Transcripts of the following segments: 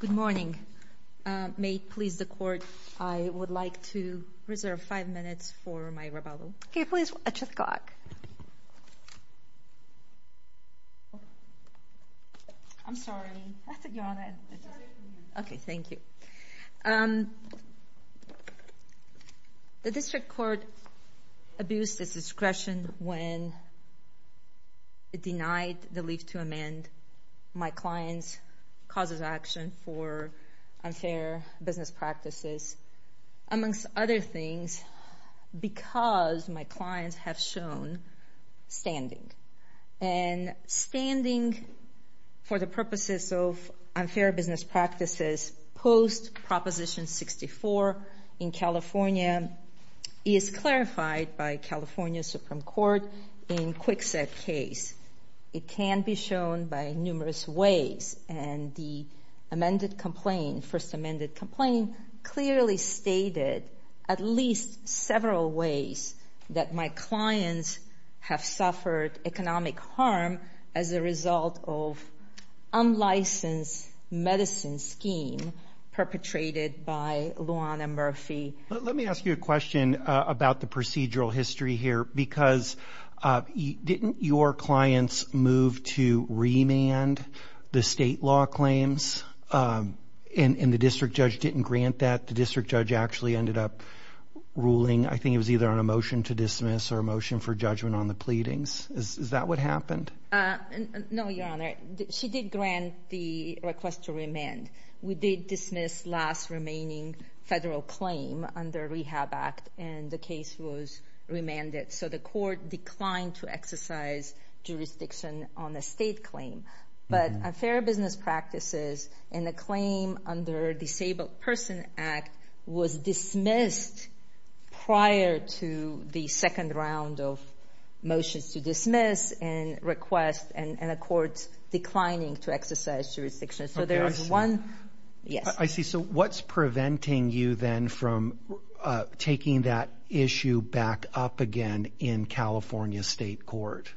Good morning. May it please the Court, I would like to reserve five minutes for my rebuttal. Okay, please watch the clock. I'm sorry. That's a yawn. Okay, thank you. The District Court abused its discretion when it denied the leave to amend my client's causes of action for unfair business practices, amongst other things, because my clients have shown standing. And standing for the purposes of unfair business practices post-Proposition 64 in California is clarified by California Supreme Court in Kwikset case. It can be shown by numerous ways. And the amended complaint, first amended complaint, clearly stated at least several ways that my clients have suffered economic harm as a result of unlicensed medicine scheme perpetrated by Luana Murphy. Let me ask you a question about the procedural history here. Because didn't your clients move to remand the state law claims? And the district judge didn't grant that. The district judge actually ended up ruling, I think it was either on a motion to dismiss or a motion for judgment on the pleadings. Is that what happened? No, Your Honor. She did grant the request to remand. We did dismiss last remaining federal claim under Rehab Act, and the case was remanded. So the court declined to exercise jurisdiction on a state claim. But unfair business practices and the claim under Disabled Person Act was dismissed prior to the second round of motions to dismiss and request, and the court's declining to exercise jurisdiction. Okay, I see. Yes. I see. So what's preventing you then from taking that issue back up again in California State Court?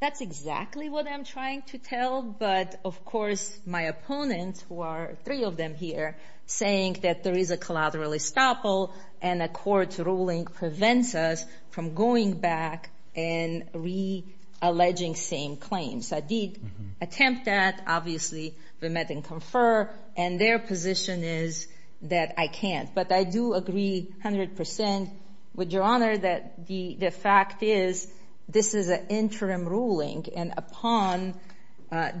That's exactly what I'm trying to tell. But, of course, my opponent, who are three of them here, saying that there is a collateral estoppel and a court's ruling prevents us from going back and re-alleging same claims. I did attempt that. Obviously, we met and confer, and their position is that I can't. But I do agree 100% with Your Honor that the fact is this is an interim ruling, and upon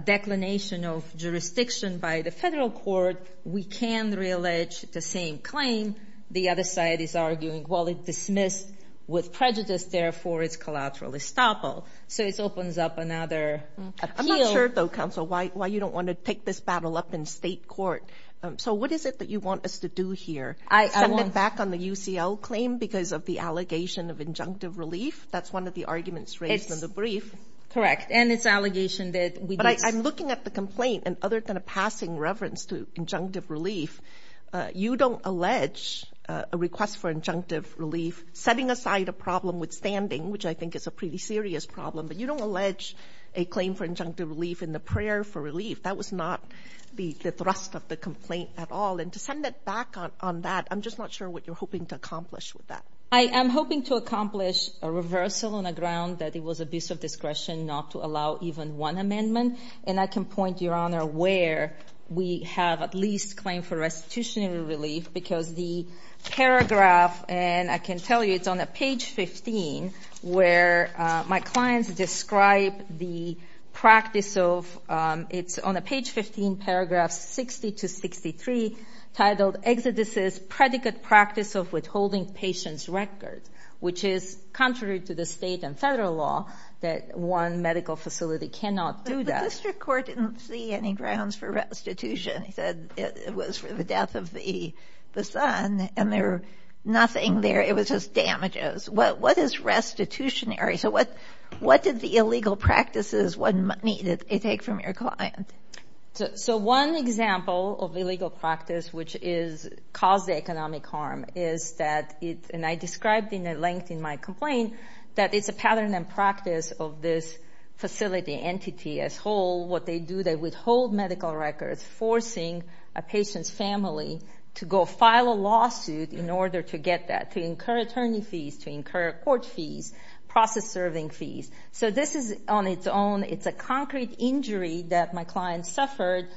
declination of jurisdiction by the federal court, we can re-allege the same claim. The other side is arguing, well, it dismissed with prejudice. Therefore, it's collateral estoppel. So it opens up another appeal. I'm not sure, though, Counsel, why you don't want to take this battle up in state court. So what is it that you want us to do here? Send it back on the UCL claim because of the allegation of injunctive relief? That's one of the arguments raised in the brief. Correct. And it's an allegation that we did. But I'm looking at the complaint, and other than a passing reverence to injunctive relief, you don't allege a request for injunctive relief, setting aside a problem with standing, which I think is a pretty serious problem. But you don't allege a claim for injunctive relief in the prayer for relief. That was not the thrust of the complaint at all. And to send it back on that, I'm just not sure what you're hoping to accomplish with that. I am hoping to accomplish a reversal on the ground that it was abuse of discretion not to allow even one amendment. And I can point, Your Honor, where we have at least claim for restitutionary relief because the paragraph, and I can tell you it's on page 15, where my clients describe the practice of ‑‑ it's on page 15, paragraph 60 to 63, titled, Exodus's Predicate Practice of Withholding Patients' Records, which is contrary to the state and federal law that one medical facility cannot do that. But the district court didn't see any grounds for restitution. It said it was for the death of the son, and there was nothing there. It was just damages. What is restitutionary? So what did the illegal practices, what money did they take from your client? So one example of illegal practice which caused economic harm is that, and I described in length in my complaint, that it's a pattern and practice of this facility entity as whole. What they do, they withhold medical records, forcing a patient's family to go file a lawsuit in order to get that, to incur attorney fees, to incur court fees, process serving fees. So this is on its own. It's a concrete injury that my client suffered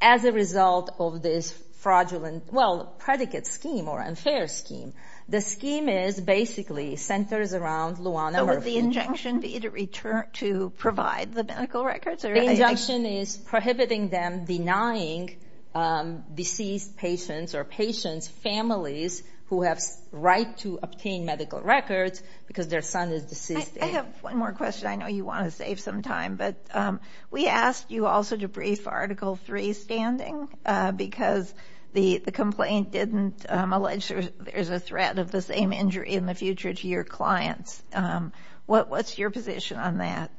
as a result of this fraudulent, well, predicate scheme or unfair scheme. The scheme is basically centers around Luana. So would the injunction be to provide the medical records? The injunction is prohibiting them denying deceased patients or patients' families who have right to obtain medical records because their son is deceased. I have one more question. I know you want to save some time, but we asked you also to brief Article III standing because the complaint didn't allege there's a threat of the same injury in the future to your clients. What's your position on that?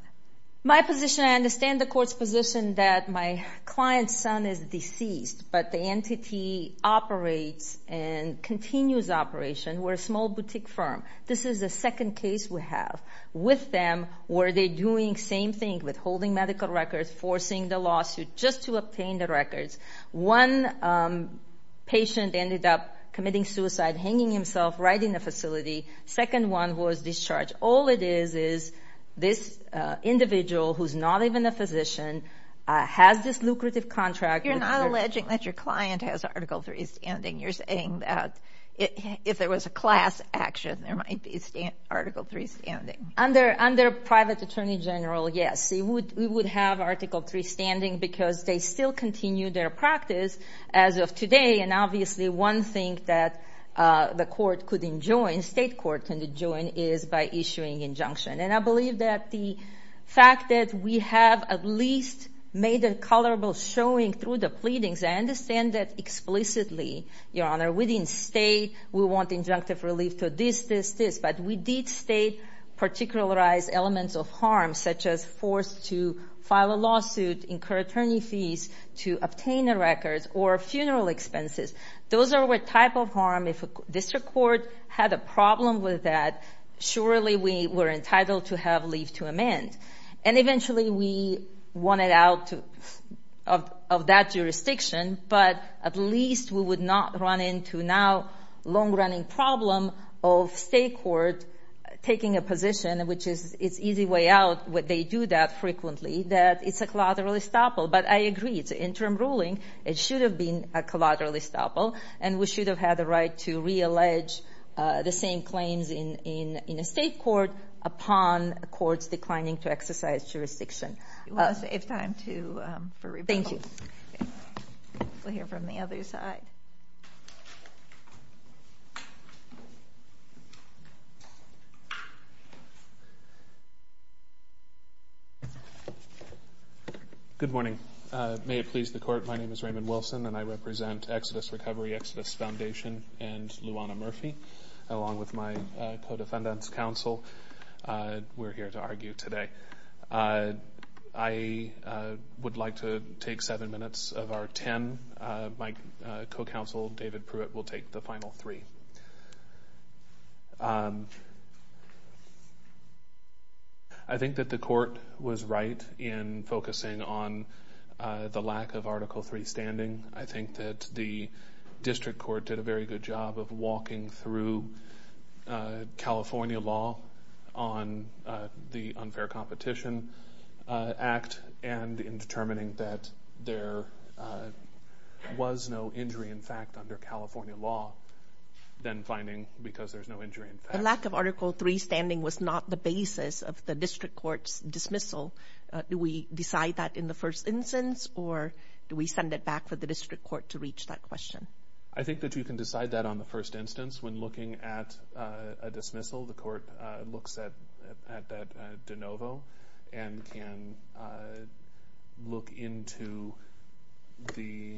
My position, I understand the court's position that my client's son is deceased, but the entity operates and continues operation. We're a small boutique firm. This is the second case we have with them where they're doing the same thing, withholding medical records, forcing the lawsuit just to obtain the records. One patient ended up committing suicide, hanging himself right in the facility. Second one was discharged. All it is is this individual who's not even a physician has this lucrative contract. You're not alleging that your client has Article III standing. You're saying that if there was a class action, there might be Article III standing. Under private attorney general, yes. We would have Article III standing because they still continue their practice as of today, and obviously one thing that the court couldn't join, state court couldn't join, is by issuing injunction. And I believe that the fact that we have at least made a colorable showing through the pleadings, I understand that explicitly, Your Honor, within state we want injunctive relief to this, this, this, but we did state particularized elements of harm such as forced to file a lawsuit, incur attorney fees to obtain the records, or funeral expenses. Those are what type of harm if a district court had a problem with that, surely we were entitled to have leave to amend. And eventually we wanted out of that jurisdiction, but at least we would not run into now long-running problem of state court taking a position, which is its easy way out, they do that frequently, that it's a collateral estoppel. But I agree, it's an interim ruling, it should have been a collateral estoppel, and we should have had the right to reallege the same claims in a state court upon courts declining to exercise jurisdiction. It's time for rebuttal. We'll hear from the other side. Good morning. May it please the Court, my name is Raymond Wilson, and I represent Exodus Recovery, Exodus Foundation, and Luana Murphy, along with my co-defendants, counsel. We're here to argue today. I would like to take seven minutes of our ten. My co-counsel, David Pruitt, will take the final three. I think that the Court was right in focusing on the lack of Article III standing. I think that the District Court did a very good job of walking through California law on the Unfair Competition Act, and in determining that there was no injury in fact under California law, then finding because there's no injury in fact. The lack of Article III standing was not the basis of the District Court's dismissal. Do we decide that in the first instance, or do we send it back for the District Court to reach that question? I think that you can decide that on the first instance. When looking at a dismissal, the Court looks at that de novo and can look into the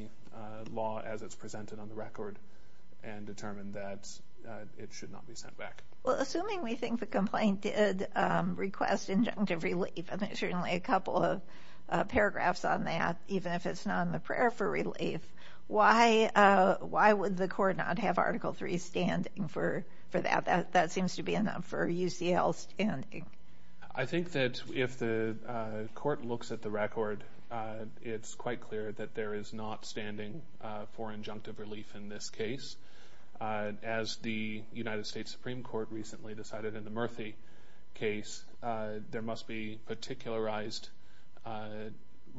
law as it's presented on the record and determine that it should not be sent back. Assuming we think the complaint did request injunctive relief, I think certainly a couple of paragraphs on that, even if it's not in the prayer for relief, why would the Court not have Article III standing for that? That seems to be enough for UCL standing. I think that if the Court looks at the record, it's quite clear that there is not standing for injunctive relief in this case. As the United States Supreme Court recently decided in the Murphy case, there must be particularized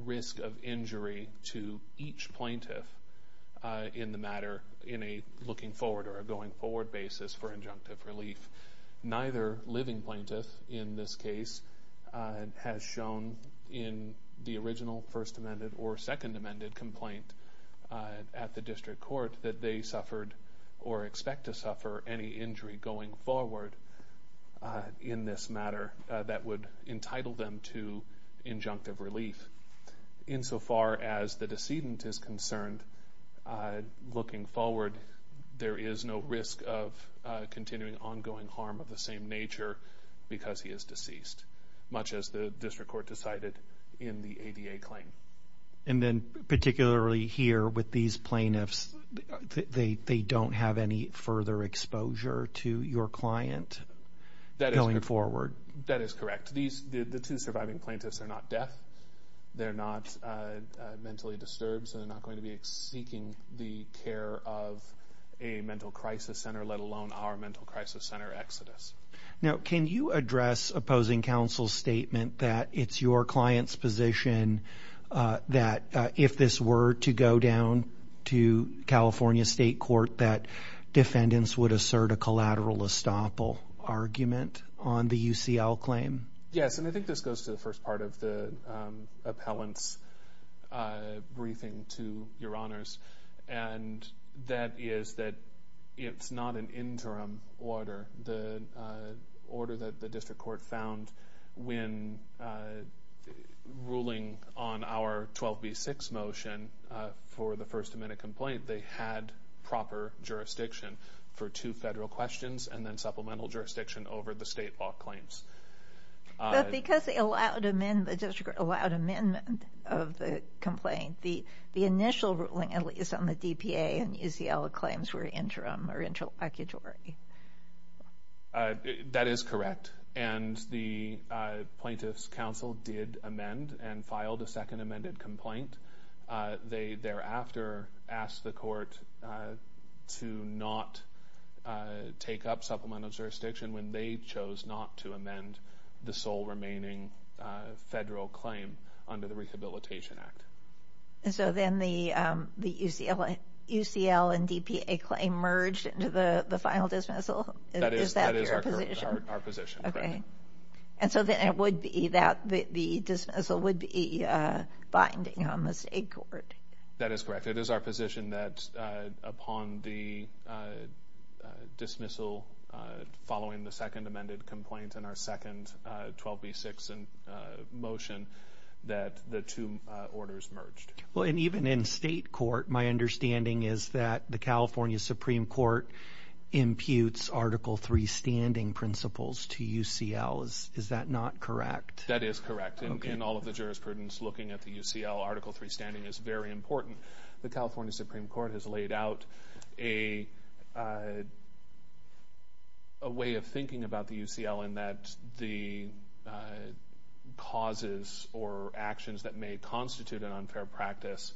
risk of injury to each plaintiff in the matter, in a looking forward or a going forward basis for injunctive relief. Neither living plaintiff in this case has shown in the original First Amendment or Second Amendment complaint at the District Court that they suffered or expect to suffer any injury going forward in this matter that would entitle them to injunctive relief. Insofar as the decedent is concerned, looking forward, there is no risk of continuing ongoing harm of the same nature because he is deceased, much as the District Court decided in the ADA claim. And then particularly here with these plaintiffs, they don't have any further exposure to your client going forward? That is correct. The two surviving plaintiffs are not deaf, they're not mentally disturbed, so they're not going to be seeking the care of a mental crisis center, let alone our mental crisis center, Exodus. Now, can you address opposing counsel's statement that it's your client's position that if this were to go down to California State Court, that defendants would assert a collateral estoppel argument on the UCL claim? Yes, and I think this goes to the first part of the appellant's briefing to Your Honors, and that is that it's not an interim order. The order that the District Court found when ruling on our 12B6 motion for the first amendment complaint, they had proper jurisdiction for two federal questions and then supplemental jurisdiction over the state law claims. But because the District Court allowed amendment of the complaint, the initial ruling at least on the DPA and UCL claims were interim or interlocutory. That is correct, and the Plaintiffs' Counsel did amend and filed a second amended complaint. They thereafter asked the court to not take up supplemental jurisdiction when they chose not to amend the sole remaining federal claim under the Rehabilitation Act. And so then the UCL and DPA claim merged into the final dismissal? That is our position, correct. Okay, and so then it would be that the dismissal would be binding on the state court? That is correct. It is our position that upon the dismissal following the second amended complaint and our second 12B6 motion that the two orders merged. Well, and even in state court, my understanding is that the California Supreme Court imputes Article III standing principles to UCL. Is that not correct? That is correct. In all of the jurisprudence looking at the UCL, Article III standing is very important. The California Supreme Court has laid out a way of thinking about the UCL in that the causes or actions that may constitute an unfair practice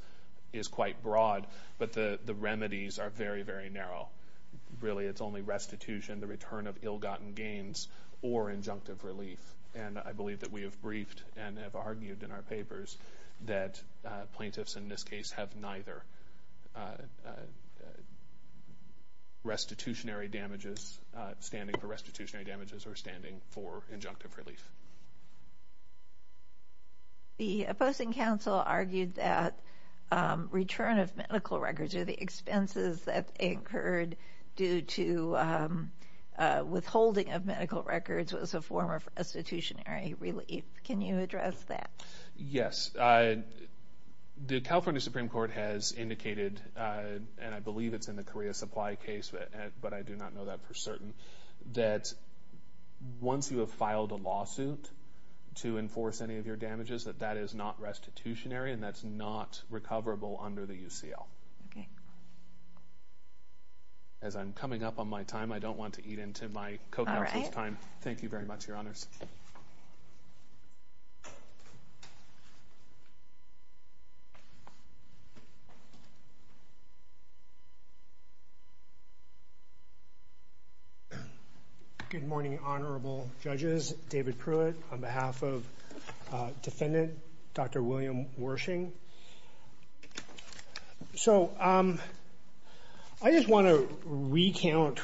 is quite broad, but the remedies are very, very narrow. Really it is only restitution, the return of ill-gotten gains, or injunctive relief. And I believe that we have briefed and have argued in our papers that plaintiffs in this case have neither standing for restitutionary damages or standing for injunctive relief. The opposing counsel argued that return of medical records, or the expenses that incurred due to withholding of medical records, was a form of restitutionary relief. Can you address that? Yes. The California Supreme Court has indicated, and I believe it is in the Korea Supply case, but I do not know that for certain, that once you have filed a lawsuit to enforce any of your damages, that that is not restitutionary and that is not recoverable under the UCL. As I am coming up on my time, I do not want to eat into my co-counsel's time. Thank you very much, Your Honors. Good morning, Honorable Judges. David Pruitt on behalf of Defendant Dr. William Wershing. I just want to recount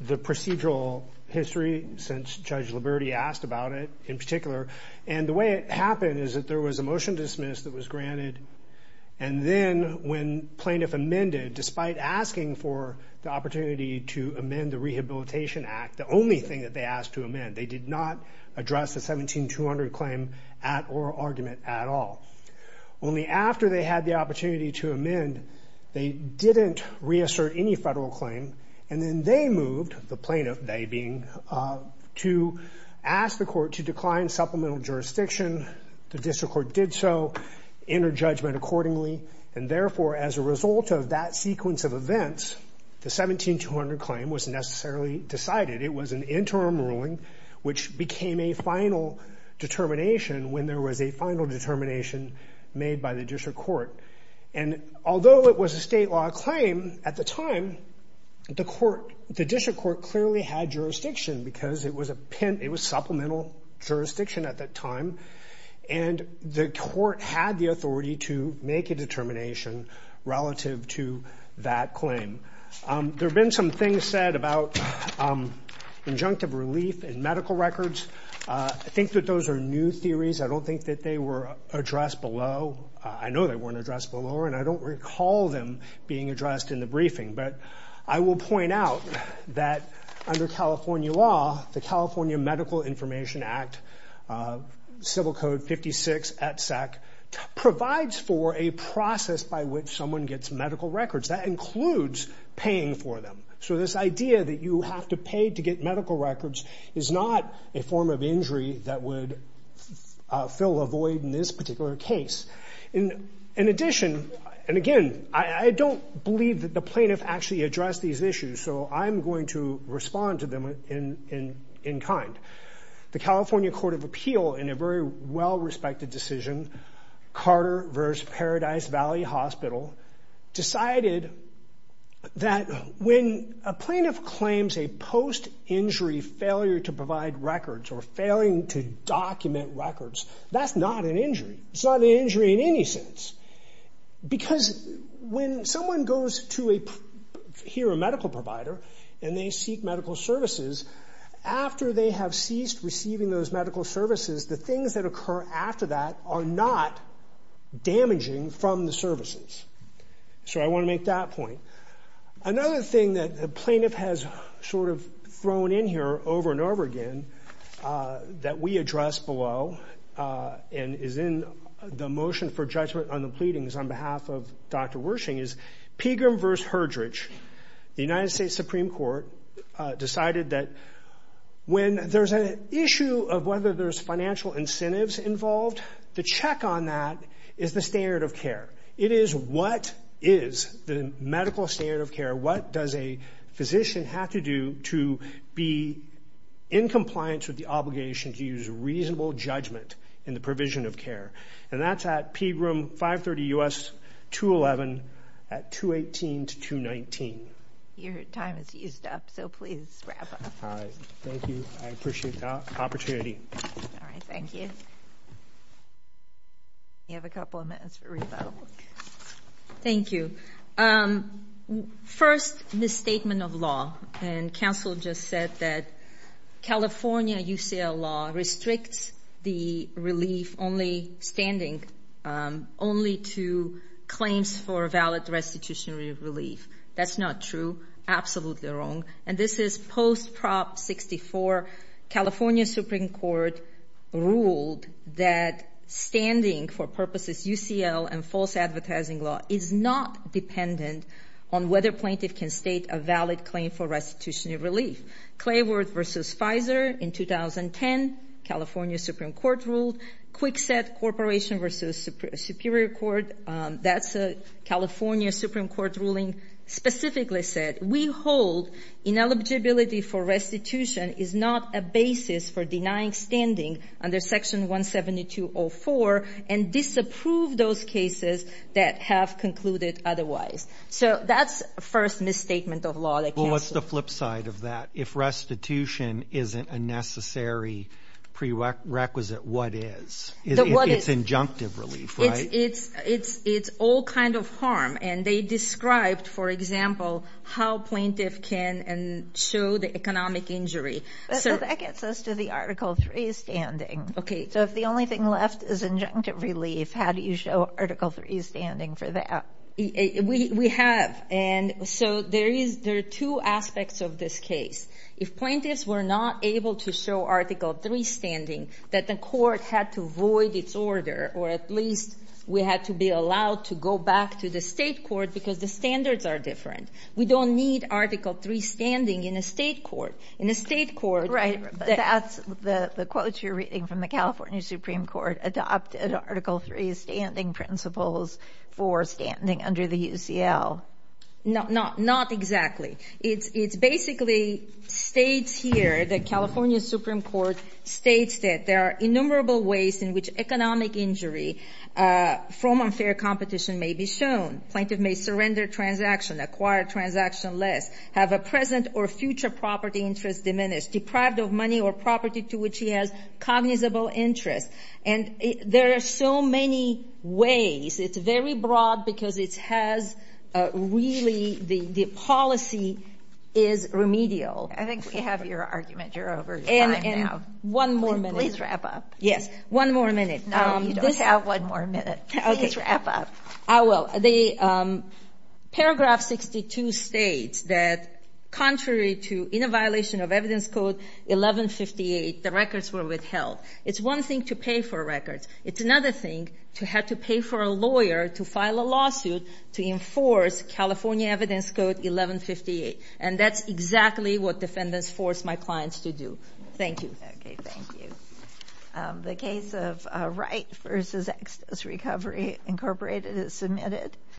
the procedural history, since Judge Liberti asked about it in particular. And the way it happened is that there was a motion dismissed that was granted, and then when plaintiff amended, despite asking for the opportunity to amend the Rehabilitation Act, the only thing that they asked to amend, they did not address the 17200 claim at oral argument at all. Only after they had the opportunity to amend, they didn't reassert any federal claim, and then they moved, the plaintiff, they being, to ask the court to decline supplemental jurisdiction. The district court did so, enter judgment accordingly, and therefore, as a result of that sequence of events, the 17200 claim was necessarily decided. It was an interim ruling which became a final determination when there was a final determination made by the district court. And although it was a state law claim at the time, the district court clearly had jurisdiction because it was supplemental jurisdiction at that time, and the court had the authority to make a determination relative to that claim. There have been some things said about injunctive relief in medical records. I think that those are new theories. I don't think that they were addressed below. I know they weren't addressed below, and I don't recall them being addressed in the briefing, but I will point out that under California law, the California Medical Information Act, Civil Code 56, provides for a process by which someone gets medical records. That includes paying for them. So this idea that you have to pay to get medical records is not a form of injury that would fill a void in this particular case. In addition, and again, I don't believe that the plaintiff actually addressed these issues, so I'm going to respond to them in kind. The California Court of Appeal, in a very well-respected decision, Carter v. Paradise Valley Hospital, decided that when a plaintiff claims a post-injury failure to provide records or failing to document records, that's not an injury. It's not an injury in any sense because when someone goes to hear a medical provider and they seek medical services, after they have ceased receiving those medical services, the things that occur after that are not damaging from the services. So I want to make that point. Another thing that the plaintiff has sort of thrown in here over and over again that we addressed below and is in the motion for judgment on the pleadings on behalf of Dr. Wershing is Pegram v. Herdrich. The United States Supreme Court decided that when there's an issue of whether there's financial incentives involved, the check on that is the standard of care. It is what is the medical standard of care, what does a physician have to do to be in compliance with the obligation to use reasonable judgment in the provision of care? And that's at Pegram 530 U.S. 211 at 218 to 219. Your time is used up, so please wrap up. All right. Thank you. I appreciate the opportunity. All right. Thank you. You have a couple of minutes for rebuttal. Thank you. First, the statement of law. And counsel just said that California UCL law restricts the relief only standing only to claims for valid restitutionary relief. That's not true. Absolutely wrong. And this is post Prop 64. California Supreme Court ruled that standing for purposes UCL and false advertising law is not dependent on whether plaintiff can state a valid claim for restitutionary relief. Clayworth v. Pfizer in 2010, California Supreme Court ruled. Kwikset Corporation v. Superior Court, that's a California Supreme Court ruling, specifically said, we hold ineligibility for restitution is not a basis for denying standing under Section 172.04 and disapprove those cases that have concluded otherwise. So that's a first misstatement of law. Well, what's the flip side of that? If restitution isn't a necessary prerequisite, what is? It's injunctive relief, right? It's all kind of harm. And they described, for example, how plaintiff can show the economic injury. That gets us to the Article 3 standing. Okay. So if the only thing left is injunctive relief, how do you show Article 3 standing for that? We have. And so there are two aspects of this case. If plaintiffs were not able to show Article 3 standing, that the court had to void its order, or at least we had to be allowed to go back to the state court because the standards are different. We don't need Article 3 standing in a state court. In a state court, that's the quote you're reading from the California Supreme Court, adopted Article 3 standing principles for standing under the UCL. Not exactly. It basically states here, the California Supreme Court states that there are innumerable ways in which economic injury from unfair competition may be shown. Plaintiff may surrender transaction, acquire transaction less, have a present or future property interest diminished, deprived of money or property to which he has cognizable interest. And there are so many ways. It's very broad because it has really the policy is remedial. I think we have your argument. You're over time now. And one more minute. Please wrap up. Yes. One more minute. No, you don't have one more minute. Okay. Please wrap up. I will. Paragraph 62 states that contrary to in a violation of Evidence Code 1158, the records were withheld. It's one thing to pay for records. It's another thing to have to pay for a lawyer to file a lawsuit to enforce California Evidence Code 1158. And that's exactly what defendants forced my clients to do. Thank you. Thank you. The case of Wright v. Exodus Recovery Incorporated is submitted.